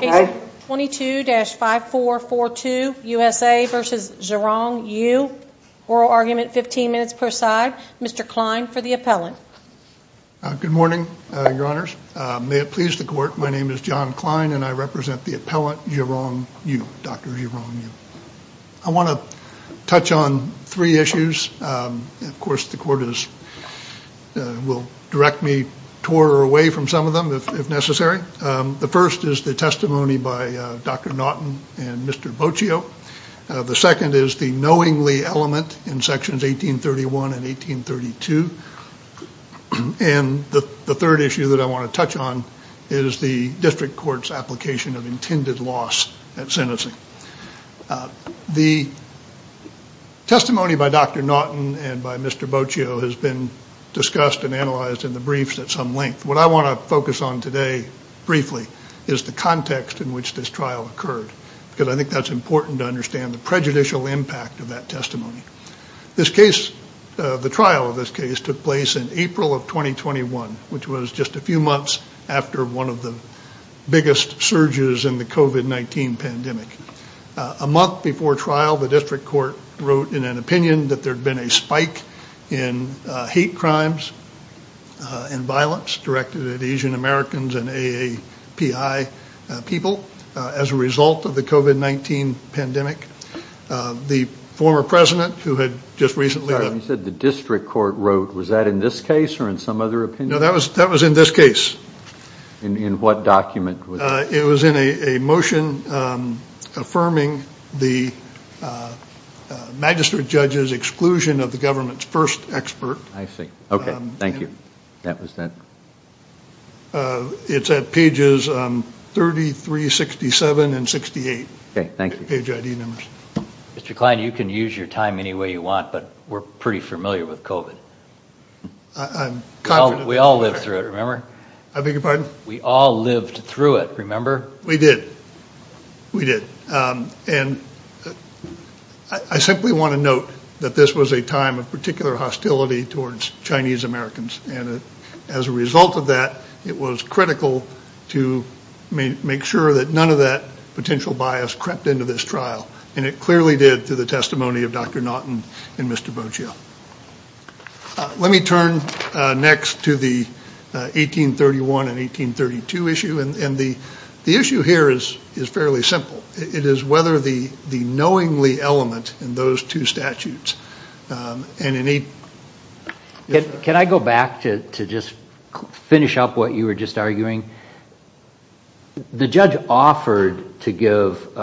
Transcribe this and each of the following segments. Page 22-5442, USA v. Xiaorong You. Oral argument 15 minutes per side. Mr. Klein for the appellant. Good morning, your honors. May it please the court, my name is John Klein and I represent the appellant Xiaorong You, Dr. Xiaorong You. I want to touch on three issues. Of course the court will direct me toward or away from some of them if necessary. The first is the testimony by Dr. Naughton and Mr. Boccio. The second is the knowingly element in sections 1831 and 1832. And the third issue that I want to touch on is the district court's application of intended loss at sentencing. The testimony by Dr. Naughton and by Mr. Boccio has been discussed and analyzed in the briefs at some length. What I want to focus on today briefly is the context in which this trial occurred. Because I think that's important to understand the prejudicial impact of that testimony. The trial of this case took place in April of 2021, which was just a few months after one of the biggest surges in the COVID-19 pandemic. A month before trial, the district court wrote in an opinion that there had been a spike in hate crimes and violence directed at Asian Americans and AAPI people as a result of the COVID-19 pandemic. The former president who had just recently... You said the district court wrote. Was that in this case or in some other opinion? No, that was in this case. In what document? It was in a motion affirming the magistrate judge's exclusion of the government's first expert. I see. Okay, thank you. It's at pages 33, 67, and 68. Okay, thank you. Mr. Klein, you can use your time any way you want, but we're pretty familiar with COVID. I'm confident. We all lived through it, remember? I beg your pardon? We all lived through it, remember? We did. We did. And I simply want to note that this was a time of particular hostility towards Chinese Americans. And as a result of that, it was critical to make sure that none of that potential bias crept into this trial. And it clearly did through the testimony of Dr. Naughton and Mr. Bocio. Let me turn next to the 1831 and 1832 issue. And the issue here is fairly simple. It is whether the knowingly element in those two statutes. Can I go back to just finish up what you were just arguing? The judge offered to give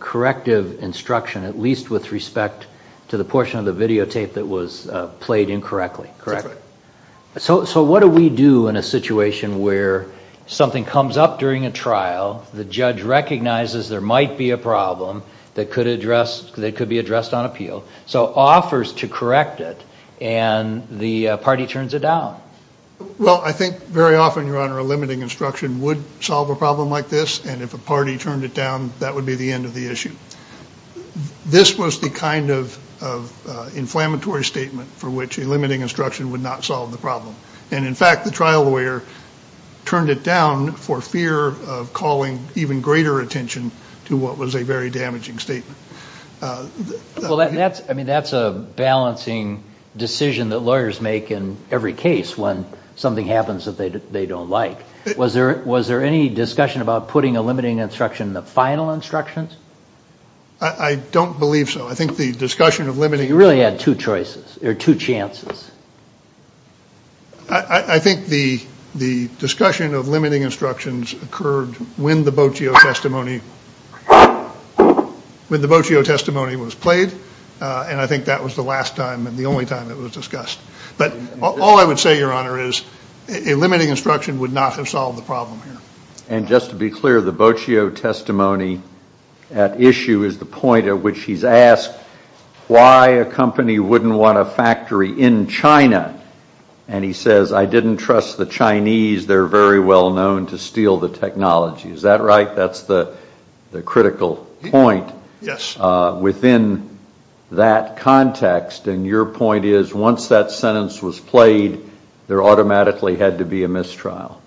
corrective instruction, at least with respect to the portion of the videotape that was played incorrectly, correct? That's right. So what do we do in a situation where something comes up during a trial, the judge recognizes there might be a problem that could be addressed on appeal, so offers to correct it, and the party turns it down? Well, I think very often, Your Honor, a limiting instruction would solve a problem like this. And if a party turned it down, that would be the end of the issue. This was the kind of inflammatory statement for which a limiting instruction would not solve the problem. And, in fact, the trial lawyer turned it down for fear of calling even greater attention to what was a very damaging statement. Well, that's a balancing decision that lawyers make in every case when something happens that they don't like. Was there any discussion about putting a limiting instruction in the final instructions? I don't believe so. I think the discussion of limiting... You really had two choices, or two chances. I think the discussion of limiting instructions occurred when the Bocio testimony was played, and I think that was the last time and the only time it was discussed. But all I would say, Your Honor, is a limiting instruction would not have solved the problem here. And just to be clear, the Bocio testimony at issue is the point at which he's asked why a company wouldn't want a factory in China. And he says, I didn't trust the Chinese. They're very well known to steal the technology. Is that right? That's the critical point within that context. And your point is, once that sentence was played, there automatically had to be a mistrial.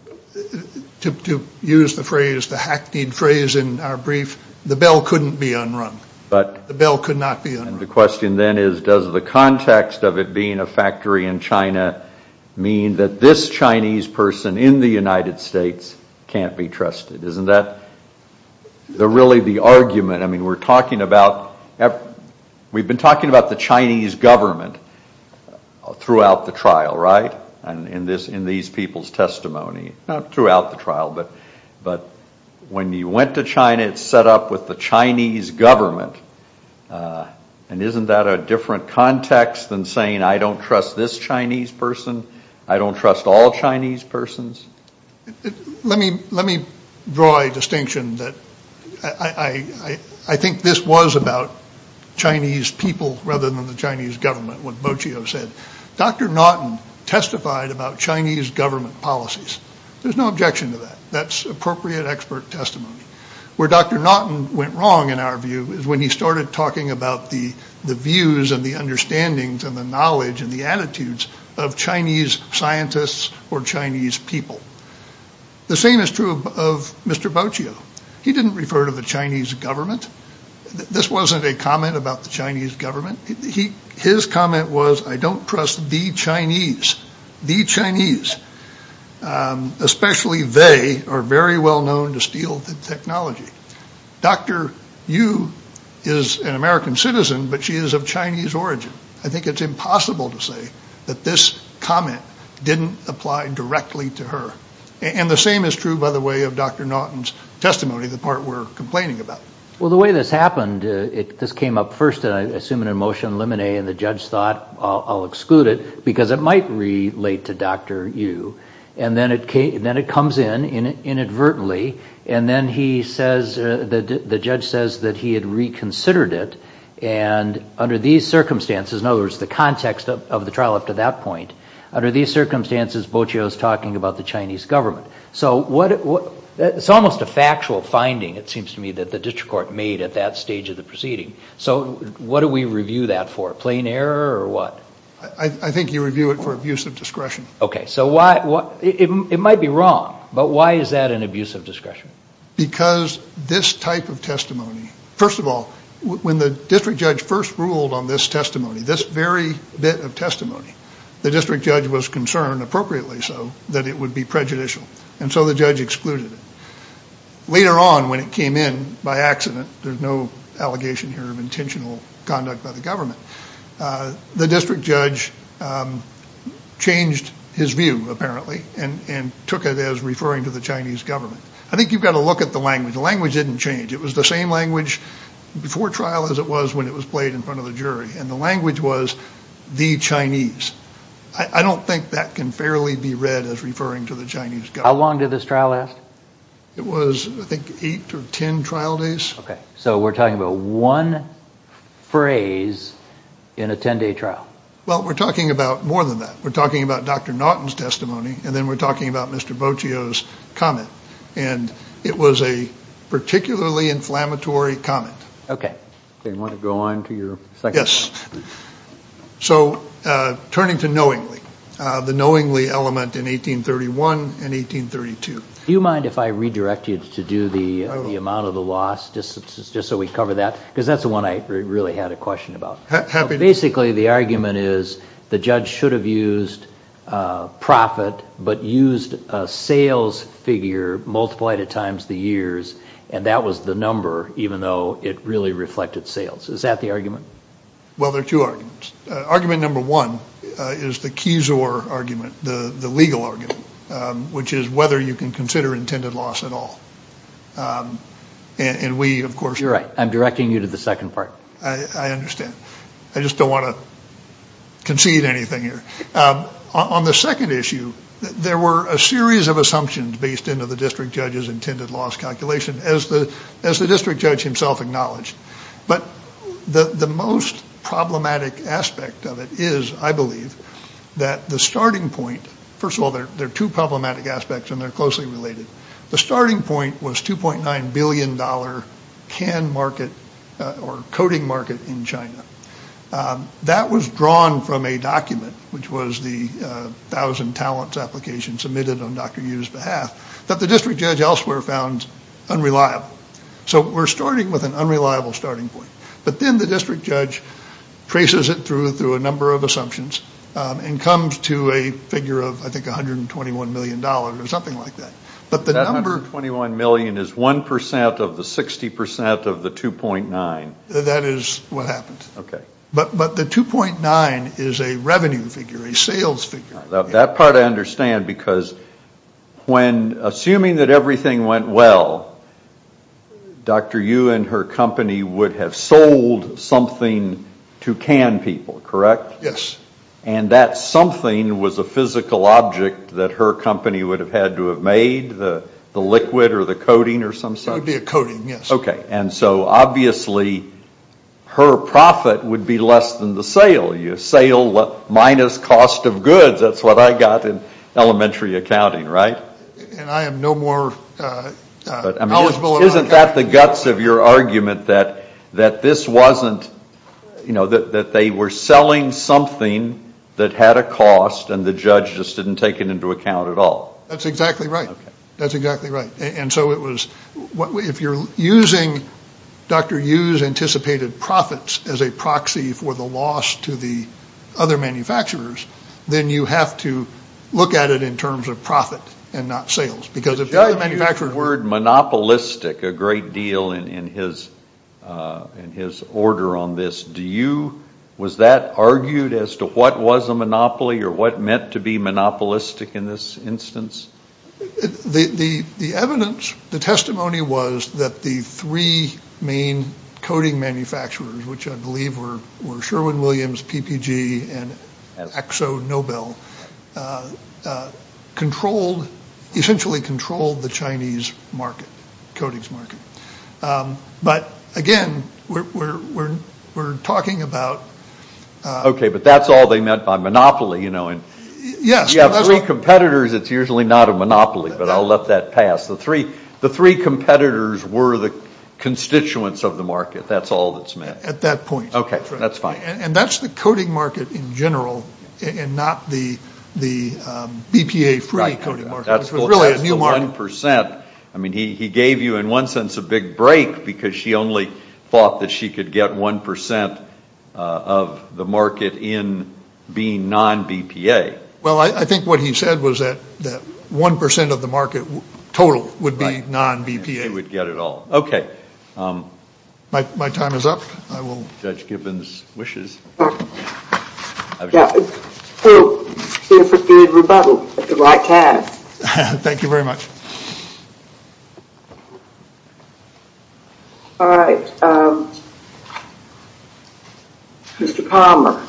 To use the phrase, the hackneyed phrase in our brief, the bell couldn't be unrung. The bell could not be unrung. The question then is, does the context of it being a factory in China mean that this Chinese person in the United States can't be trusted? Isn't that really the argument? I mean, we've been talking about the Chinese government throughout the trial, right? But when you went to China, it's set up with the Chinese government. And isn't that a different context than saying, I don't trust this Chinese person? I don't trust all Chinese persons? Let me draw a distinction that I think this was about Chinese people rather than the Chinese government, what Bocio said. Dr. Naughton testified about Chinese government policies. There's no objection to that. That's appropriate expert testimony. Where Dr. Naughton went wrong, in our view, is when he started talking about the views and the understandings and the knowledge and the attitudes of Chinese scientists or Chinese people. The same is true of Mr. Bocio. He didn't refer to the Chinese government. This wasn't a comment about the Chinese government. His comment was, I don't trust the Chinese. The Chinese, especially they, are very well known to steal the technology. Dr. Yu is an American citizen, but she is of Chinese origin. I think it's impossible to say that this comment didn't apply directly to her. And the same is true, by the way, of Dr. Naughton's testimony, the part we're complaining about. Well, the way this happened, this came up first, I assume, in a motion of limine and the judge thought, I'll exclude it because it might relate to Dr. Yu. And then it comes in inadvertently, and then he says, the judge says that he had reconsidered it. And under these circumstances, in other words, the context of the trial up to that point, under these circumstances Bocio is talking about the Chinese government. So it's almost a factual finding, it seems to me, that the district court made at that stage of the proceeding. So what do we review that for, plain error or what? I think you review it for abuse of discretion. Okay, so it might be wrong, but why is that an abuse of discretion? Because this type of testimony, first of all, when the district judge first ruled on this testimony, this very bit of testimony, the district judge was concerned, appropriately so, that it would be prejudicial. And so the judge excluded it. Later on when it came in by accident, there's no allegation here of intentional conduct by the government, the district judge changed his view apparently and took it as referring to the Chinese government. I think you've got to look at the language. The language didn't change. It was the same language before trial as it was when it was played in front of the jury. And the language was the Chinese. I don't think that can fairly be read as referring to the Chinese government. How long did this trial last? It was, I think, eight or ten trial days. Okay, so we're talking about one phrase in a ten-day trial. Well, we're talking about more than that. We're talking about Dr. Naughton's testimony and then we're talking about Mr. Bocio's comment. And it was a particularly inflammatory comment. Okay. Do you want to go on to your second point? Yes. So turning to knowingly, the knowingly element in 1831 and 1832. Do you mind if I redirect you to do the amount of the loss just so we cover that? Because that's the one I really had a question about. Basically, the argument is the judge should have used profit but used a sales figure multiplied at times the years, and that was the number even though it really reflected sales. Is that the argument? Well, there are two arguments. Argument number one is the keys or argument, the legal argument, which is whether you can consider intended loss at all. And we, of course— You're right. I'm directing you to the second part. I understand. I just don't want to concede anything here. On the second issue, there were a series of assumptions based into the district judge's intended loss calculation, as the district judge himself acknowledged. But the most problematic aspect of it is, I believe, that the starting point— First of all, there are two problematic aspects, and they're closely related. The starting point was $2.9 billion can market or coding market in China. That was drawn from a document, which was the thousand talents application submitted on Dr. Yu's behalf, that the district judge elsewhere found unreliable. So we're starting with an unreliable starting point. But then the district judge traces it through a number of assumptions and comes to a figure of, I think, $121 million or something like that. But the number— That $121 million is 1% of the 60% of the 2.9. That is what happens. Okay. But the 2.9 is a revenue figure, a sales figure. That part I understand, because when— Assuming that everything went well, Dr. Yu and her company would have sold something to can people, correct? Yes. And that something was a physical object that her company would have had to have made, the liquid or the coating or something? It would be a coating, yes. Okay. And so, obviously, her profit would be less than the sale. You sale minus cost of goods. That's what I got in elementary accounting, right? And I am no more knowledgeable about accounting than you are. Isn't that the guts of your argument, that this wasn't— that they were selling something that had a cost and the judge just didn't take it into account at all? That's exactly right. That's exactly right. If you're using Dr. Yu's anticipated profits as a proxy for the loss to the other manufacturers, then you have to look at it in terms of profit and not sales. Because if the other manufacturers— You use the word monopolistic a great deal in his order on this. Was that argued as to what was a monopoly or what meant to be monopolistic in this instance? The evidence, the testimony was that the three main coating manufacturers, which I believe were Sherwin-Williams, PPG, and ExoNobel, essentially controlled the Chinese coatings market. But, again, we're talking about— Okay, but that's all they meant by monopoly. Yes. If you have three competitors, it's usually not a monopoly, but I'll let that pass. The three competitors were the constituents of the market. That's all that's meant. At that point. Okay, that's fine. And that's the coating market in general and not the BPA-free coating market, which was really a new market. That's the 1%. I mean, he gave you, in one sense, a big break because she only thought that she could get 1% of the market in being non-BPA. Well, I think what he said was that 1% of the market total would be non-BPA. Right. She would get it all. Okay. My time is up. I will— Judge Gibbons wishes. Yeah. So, here's a good rebuttal at the right time. Thank you very much. All right. Mr. Palmer.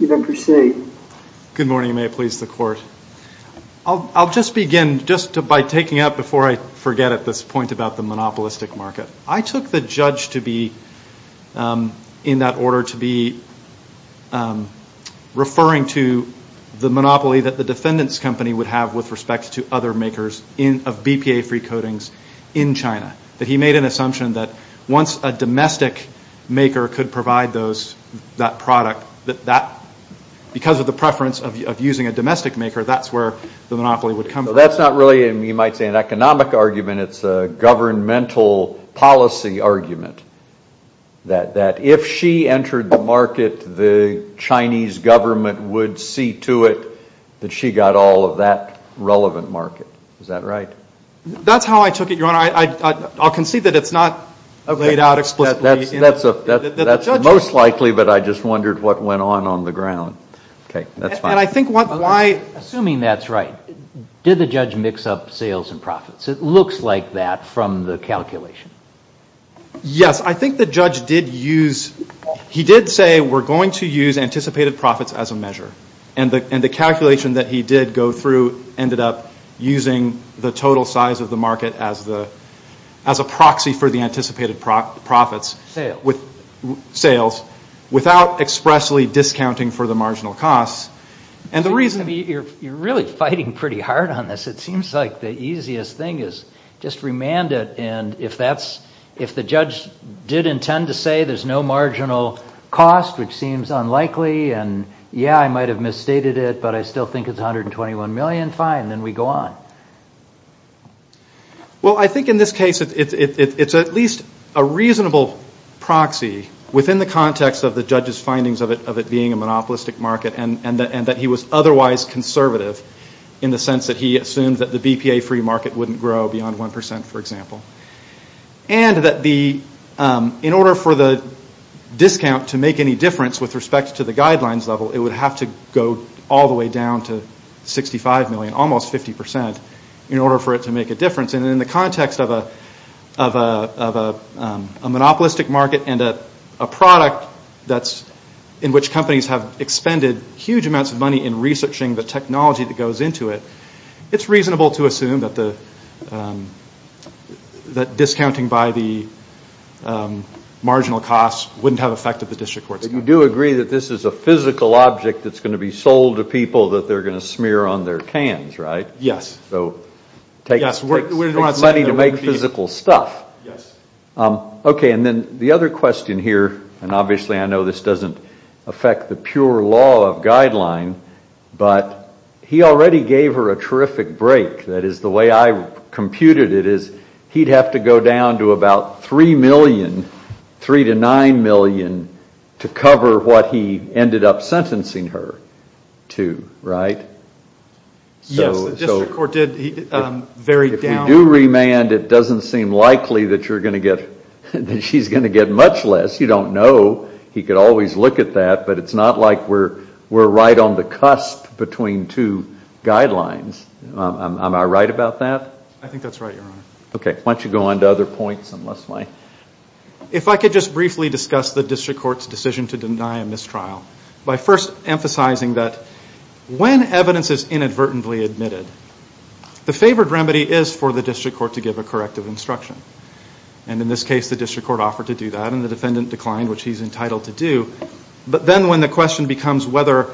You may proceed. Good morning. May it please the Court. I'll just begin just by taking up before I forget at this point about the monopolistic market. I took the judge to be in that order to be referring to the monopoly that the defendant's company would have with respect to other makers of BPA-free coatings in China, that he made an assumption that once a domestic maker could provide that product, that because of the preference of using a domestic maker, that's where the monopoly would come from. Well, that's not really, you might say, an economic argument. It's a governmental policy argument, that if she entered the market, the Chinese government would see to it that she got all of that relevant market. Is that right? That's how I took it, Your Honor. I'll concede that it's not laid out explicitly. That's most likely, but I just wondered what went on on the ground. Okay. That's fine. Assuming that's right, did the judge mix up sales and profits? It looks like that from the calculation. Yes. I think the judge did use, he did say, we're going to use anticipated profits as a measure. And the calculation that he did go through ended up using the total size of the market as a proxy for the anticipated profits. Sales. Sales. Without expressly discounting for the marginal costs. You're really fighting pretty hard on this. It seems like the easiest thing is just remand it. And if the judge did intend to say there's no marginal cost, which seems unlikely, and yeah, I might have misstated it, but I still think it's $121 million, fine, then we go on. Well, I think in this case it's at least a reasonable proxy within the context of the judge's findings of it being a monopolistic market and that he was otherwise conservative in the sense that he assumed that the BPA-free market wouldn't grow beyond 1%, for example. And that in order for the discount to make any difference with respect to the guidelines level, it would have to go all the way down to $65 million, almost 50%, in order for it to make a difference. And in the context of a monopolistic market and a product in which companies have expended huge amounts of money in researching the technology that goes into it, it's reasonable to assume that discounting by the marginal costs wouldn't have an effect on the district courts. But you do agree that this is a physical object that's going to be sold to people that they're going to smear on their cans, right? Yes. So it takes money to make physical stuff. Yes. Okay, and then the other question here, and obviously I know this doesn't affect the pure law of guideline, but he already gave her a terrific break. That is the way I computed it is he'd have to go down to about $3 million, $3 to $9 million, to cover what he ended up sentencing her to, right? Yes, the district court did. If you do remand, it doesn't seem likely that she's going to get much less. You don't know. He could always look at that, but it's not like we're right on the cusp between two guidelines. Am I right about that? I think that's right, Your Honor. Okay, why don't you go on to other points? If I could just briefly discuss the district court's decision to deny a mistrial. By first emphasizing that when evidence is inadvertently admitted, the favored remedy is for the district court to give a corrective instruction. And in this case, the district court offered to do that, and the defendant declined, which he's entitled to do. But then when the question becomes whether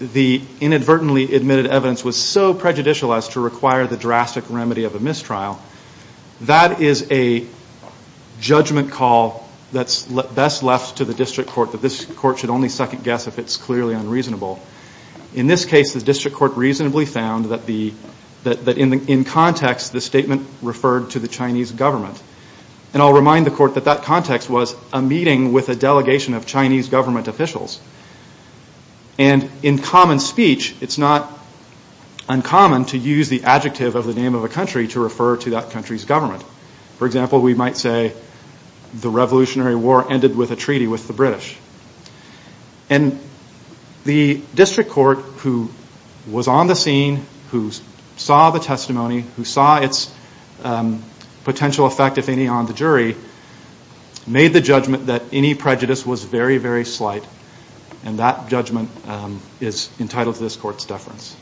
the inadvertently admitted evidence was so prejudicial as to require the drastic remedy of a mistrial, that is a judgment call that's best left to the district court, that this court should only second-guess if it's clearly unreasonable. In this case, the district court reasonably found that in context, the statement referred to the Chinese government. And I'll remind the court that that context was a meeting with a delegation of Chinese government officials. And in common speech, it's not uncommon to use the adjective of the name of a country to refer to that country's government. For example, we might say, the Revolutionary War ended with a treaty with the British. And the district court, who was on the scene, who saw the testimony, who saw its potential effect, if any, on the jury, made the judgment that any prejudice was very, very slight. And that judgment is entitled to this court's deference.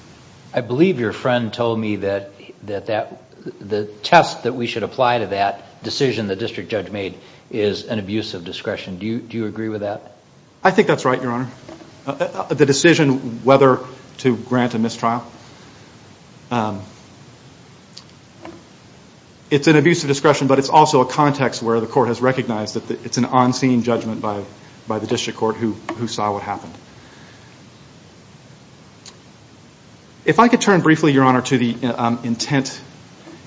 I believe your friend told me that the test that we should apply to that decision the district judge made is an abuse of discretion. Do you agree with that? I think that's right, Your Honor. The decision whether to grant a mistrial, it's an abuse of discretion, but it's also a context where the court has recognized that it's an on-scene judgment by the district court who saw what happened. If I could turn briefly, Your Honor, to the intent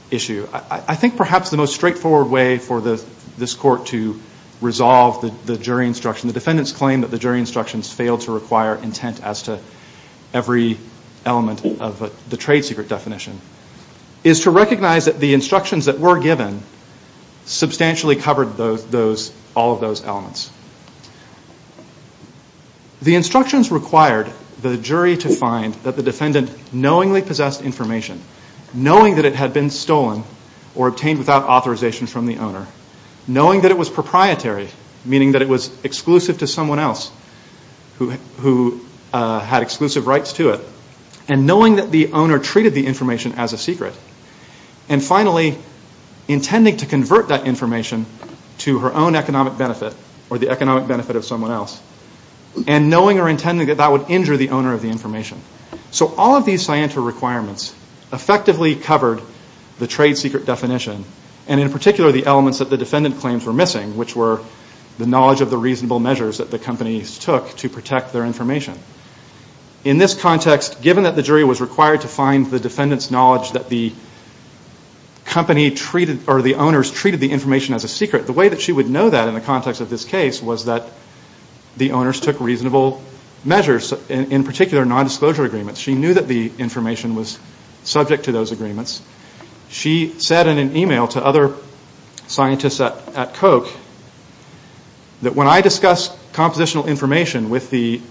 issue, I think perhaps the most straightforward way for this court to resolve the jury instruction, the defendant's claim that the jury instructions failed to require intent as to every element of the trade secret definition, is to recognize that the instructions that were given substantially covered all of those elements. The instructions required the jury to find that the defendant knowingly possessed information, knowing that it had been stolen or obtained without authorization from the owner, knowing that it was proprietary, meaning that it was exclusive to someone else who had exclusive rights to it, and knowing that the owner treated the information as a secret, and finally, intending to convert that information to her own economic benefit or the economic benefit of someone else, and knowing or intending that that would injure the owner of the information. So all of these scienter requirements effectively covered the trade secret definition, and in particular the elements that the defendant claims were missing, which were the knowledge of the reasonable measures that the companies took to protect their information. In this context, given that the jury was required to find the defendant's knowledge that the company treated or the owners treated the information as a secret, the way that she would know that in the context of this case was that the owners took reasonable measures, in particular nondisclosure agreements. She knew that the information was subject to those agreements. She said in an email to other scientists at Koch that when I discuss compositional information with the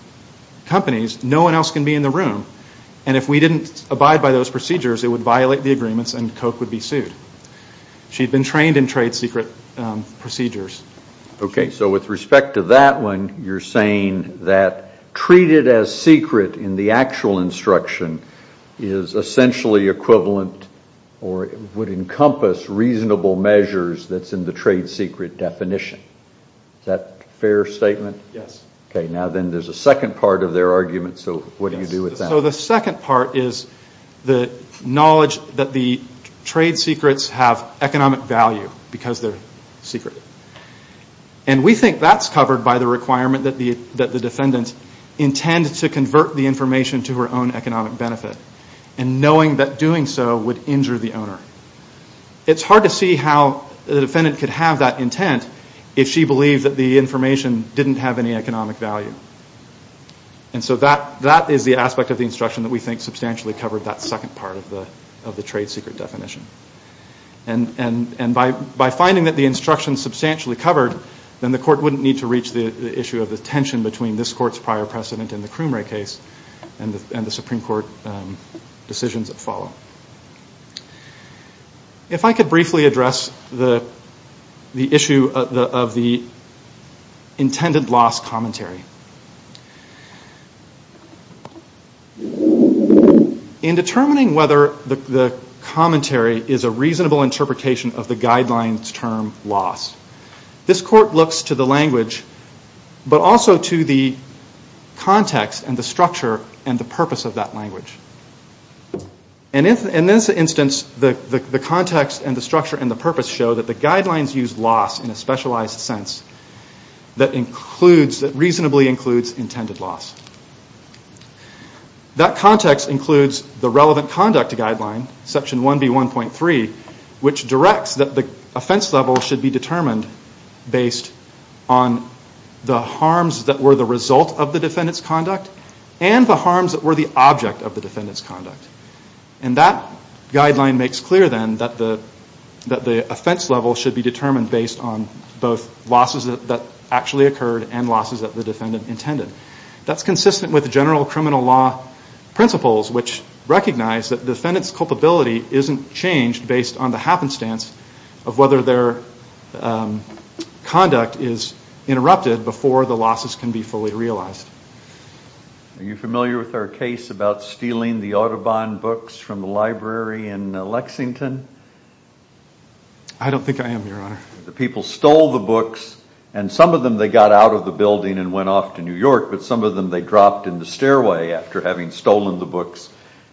companies, no one else can be in the room, and if we didn't abide by those procedures, it would violate the agreements and Koch would be sued. She'd been trained in trade secret procedures. Okay, so with respect to that one, you're saying that treated as secret in the actual instruction is essentially equivalent or would encompass reasonable measures that's in the trade secret definition. Is that a fair statement? Yes. Okay, now then there's a second part of their argument, so what do you do with that? So the second part is the knowledge that the trade secrets have economic value because they're secret, and we think that's covered by the requirement that the defendant intended to convert the information to her own economic benefit, and knowing that doing so would injure the owner. It's hard to see how the defendant could have that intent if she believed that the information didn't have any economic value, and so that is the aspect of the instruction that we think substantially covered that second part of the trade secret definition, and by finding that the instruction is substantially covered, then the court wouldn't need to reach the issue of the tension between this court's prior precedent and the Croomer case and the Supreme Court decisions that follow. If I could briefly address the issue of the intended loss commentary. In determining whether the commentary is a reasonable interpretation of the guidelines term loss, this court looks to the language but also to the context and the structure and the purpose of that language. In this instance, the context and the structure and the purpose show that the guidelines use loss in a specialized sense that reasonably includes intended loss. That context includes the relevant conduct guideline, section 1B1.3, which directs that the offense level should be determined based on the harms that were the result of the defendant's conduct and the harms that were the object of the defendant's conduct, and that guideline makes clear, then, that the offense level should be determined based on both losses that actually occurred and losses that the defendant intended. That's consistent with general criminal law principles, which recognize that the defendant's culpability isn't changed based on the happenstance of whether their conduct is interrupted before the losses can be fully realized. Are you familiar with our case about stealing the Audubon books from the library in Lexington? I don't think I am, Your Honor. The people stole the books, and some of them they got out of the building and went off to New York, but some of them they dropped in the stairway after having stolen the books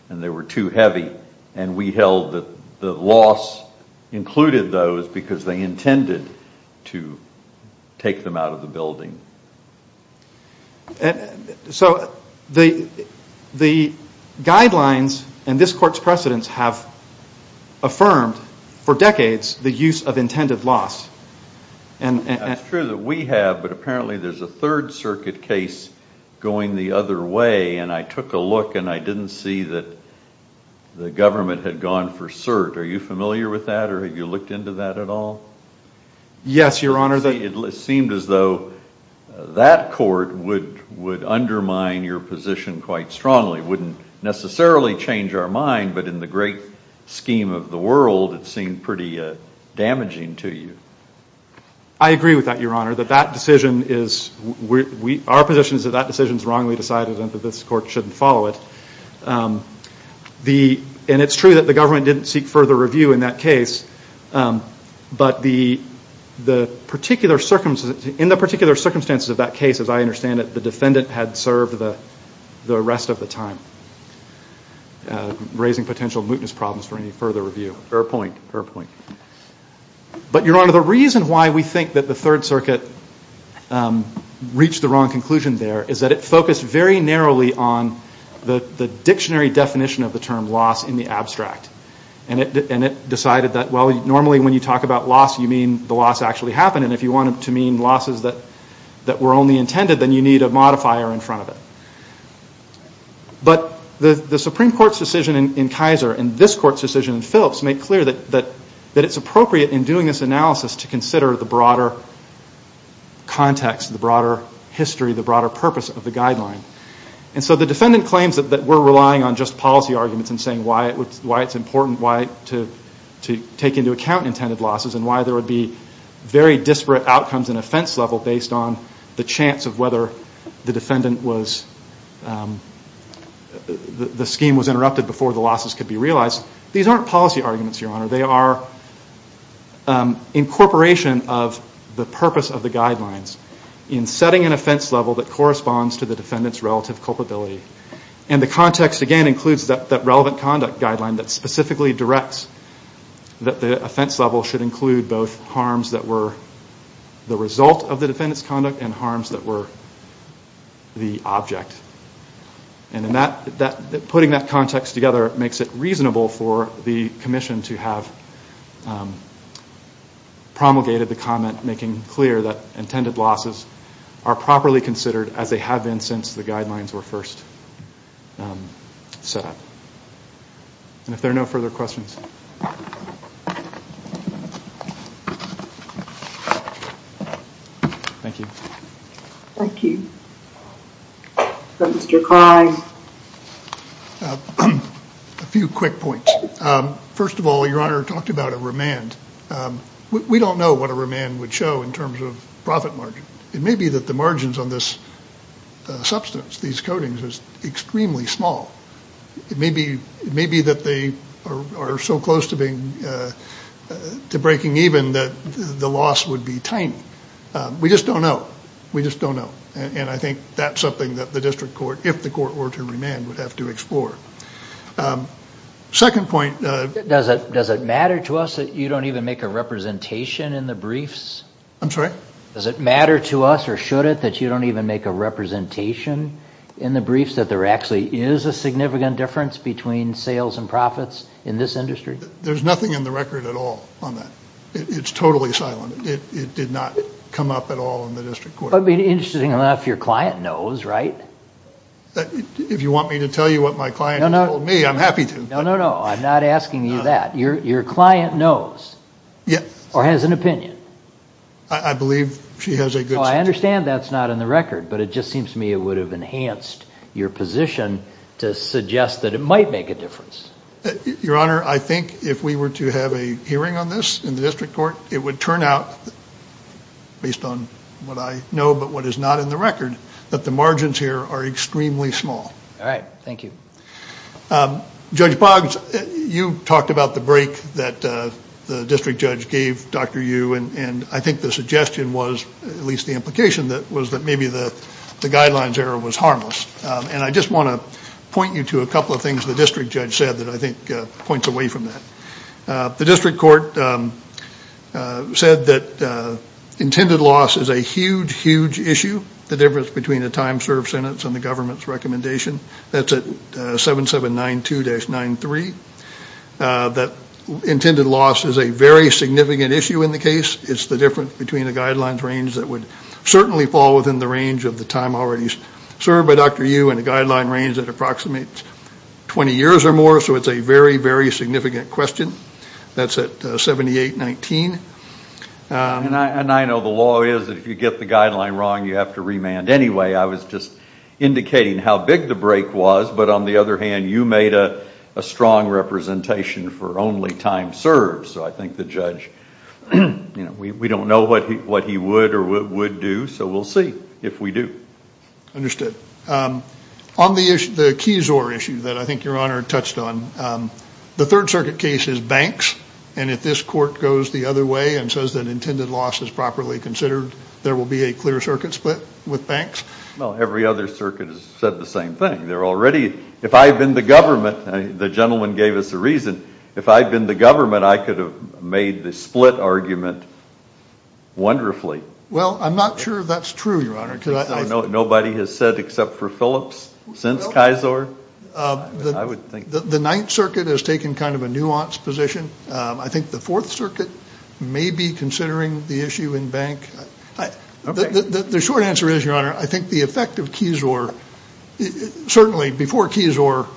and they were too heavy, and we held that the loss included those because they intended to take them out of the building. So the guidelines and this Court's precedents have affirmed for decades the use of intended loss. It's true that we have, but apparently there's a Third Circuit case going the other way, and I took a look and I didn't see that the government had gone for cert. Are you familiar with that, or have you looked into that at all? Yes, Your Honor. It seemed as though that court would undermine your position quite strongly, wouldn't necessarily change our mind, but in the great scheme of the world, it seemed pretty damaging to you. I agree with that, Your Honor. Our position is that that decision is wrongly decided and that this Court shouldn't follow it. And it's true that the government didn't seek further review in that case, but in the particular circumstances of that case, as I understand it, the defendant had served the rest of the time, raising potential mootness problems for any further review. Fair point, fair point. But, Your Honor, the reason why we think that the Third Circuit reached the wrong conclusion there is that it focused very narrowly on the dictionary definition of the term loss in the abstract, and it decided that, well, normally when you talk about loss, you mean the loss actually happened, and if you want it to mean losses that were only intended, then you need a modifier in front of it. But the Supreme Court's decision in Kaiser and this Court's decision in Phillips make clear that it's appropriate in doing this analysis to consider the broader context, the broader history, the broader purpose of the guideline. And so the defendant claims that we're relying on just policy arguments and saying why it's important to take into account intended losses and why there would be very disparate outcomes in offense level based on the chance of whether the defendant was, the scheme was interrupted before the losses could be realized. These aren't policy arguments, Your Honor. They are incorporation of the purpose of the guidelines in setting an offense level that corresponds to the defendant's relative culpability. And the context, again, includes that relevant conduct guideline that specifically directs that the offense level should include both harms that were the result of the defendant's conduct and harms that were the object. And in that, putting that context together makes it reasonable for the commission to have promulgated the comment making clear that intended losses are properly considered as they have been since the guidelines were first set up. And if there are no further questions. Thank you. Thank you. Mr. Klein. A few quick points. First of all, Your Honor talked about a remand. We don't know what a remand would show in terms of profit margin. It may be that the margins on this substance, these coatings, is extremely small. It may be that they are so close to breaking even that the loss would be tiny. We just don't know. We just don't know. And I think that's something that the district court, if the court were to remand, would have to explore. Second point. Does it matter to us that you don't even make a representation in the briefs? I'm sorry? Does it matter to us or should it that you don't even make a representation in the briefs that there actually is a significant difference between sales and profits in this industry? There's nothing in the record at all on that. It's totally silent. It did not come up at all in the district court. It would be interesting enough if your client knows, right? If you want me to tell you what my client told me, I'm happy to. No, no, no. I'm not asking you that. Your client knows or has an opinion. I believe she has a good sense. I understand that's not in the record, but it just seems to me it would have enhanced your position to suggest that it might make a difference. Your Honor, I think if we were to have a hearing on this in the district court, it would turn out, based on what I know but what is not in the record, that the margins here are extremely small. All right. Thank you. Judge Boggs, you talked about the break that the district judge gave Dr. Yu, and I think the suggestion was, at least the implication, was that maybe the guidelines error was harmless. And I just want to point you to a couple of things the district judge said that I think points away from that. The district court said that intended loss is a huge, huge issue, the difference between a time-served sentence and the government's recommendation. That's at 7792-93. That intended loss is a very significant issue in the case. It's the difference between a guidelines range that would certainly fall within the range of the time already served by Dr. Yu and a guideline range that approximates 20 years or more. So it's a very, very significant question. That's at 7819. And I know the law is if you get the guideline wrong, you have to remand anyway. I was just indicating how big the break was. But on the other hand, you made a strong representation for only time served. So I think the judge, you know, we don't know what he would or would do. So we'll see if we do. Understood. On the Keysore issue that I think Your Honor touched on, the Third Circuit case is banks. And if this court goes the other way and says that intended loss is properly considered, there will be a clear circuit split with banks? Well, every other circuit has said the same thing. They're already, if I had been the government, the gentleman gave us a reason, if I had been the government, I could have made the split argument wonderfully. Well, I'm not sure that's true, Your Honor. Nobody has said except for Phillips since Keysore? The Ninth Circuit has taken kind of a nuanced position. I think the Fourth Circuit may be considering the issue in bank. The short answer is, Your Honor, I think the effect of Keysore, certainly before Keysore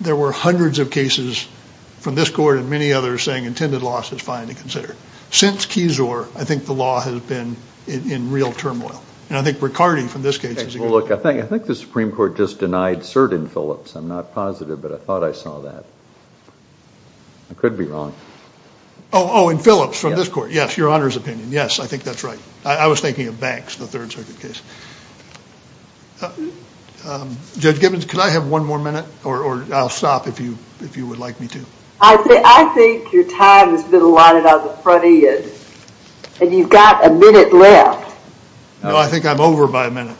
there were hundreds of cases from this court and many others saying intended loss is fine to consider. Since Keysore, I think the law has been in real turmoil. And I think Riccardi from this case is a good example. Well, look, I think the Supreme Court just denied cert in Phillips. I'm not positive, but I thought I saw that. I could be wrong. Oh, in Phillips from this court? Yes. That's Your Honor's opinion. Yes, I think that's right. I was thinking of banks, the Third Circuit case. Judge Gibbons, could I have one more minute? Or I'll stop if you would like me to. I think your time has been allotted on the front end. And you've got a minute left. No, I think I'm over by a minute.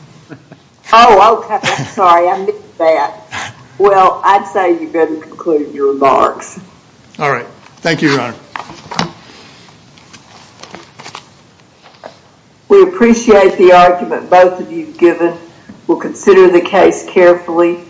Oh, okay. I'm sorry. I missed that. Well, I'd say you better conclude your remarks. All right. Thank you, Your Honor. We appreciate the argument both of you have given. We'll consider the case carefully.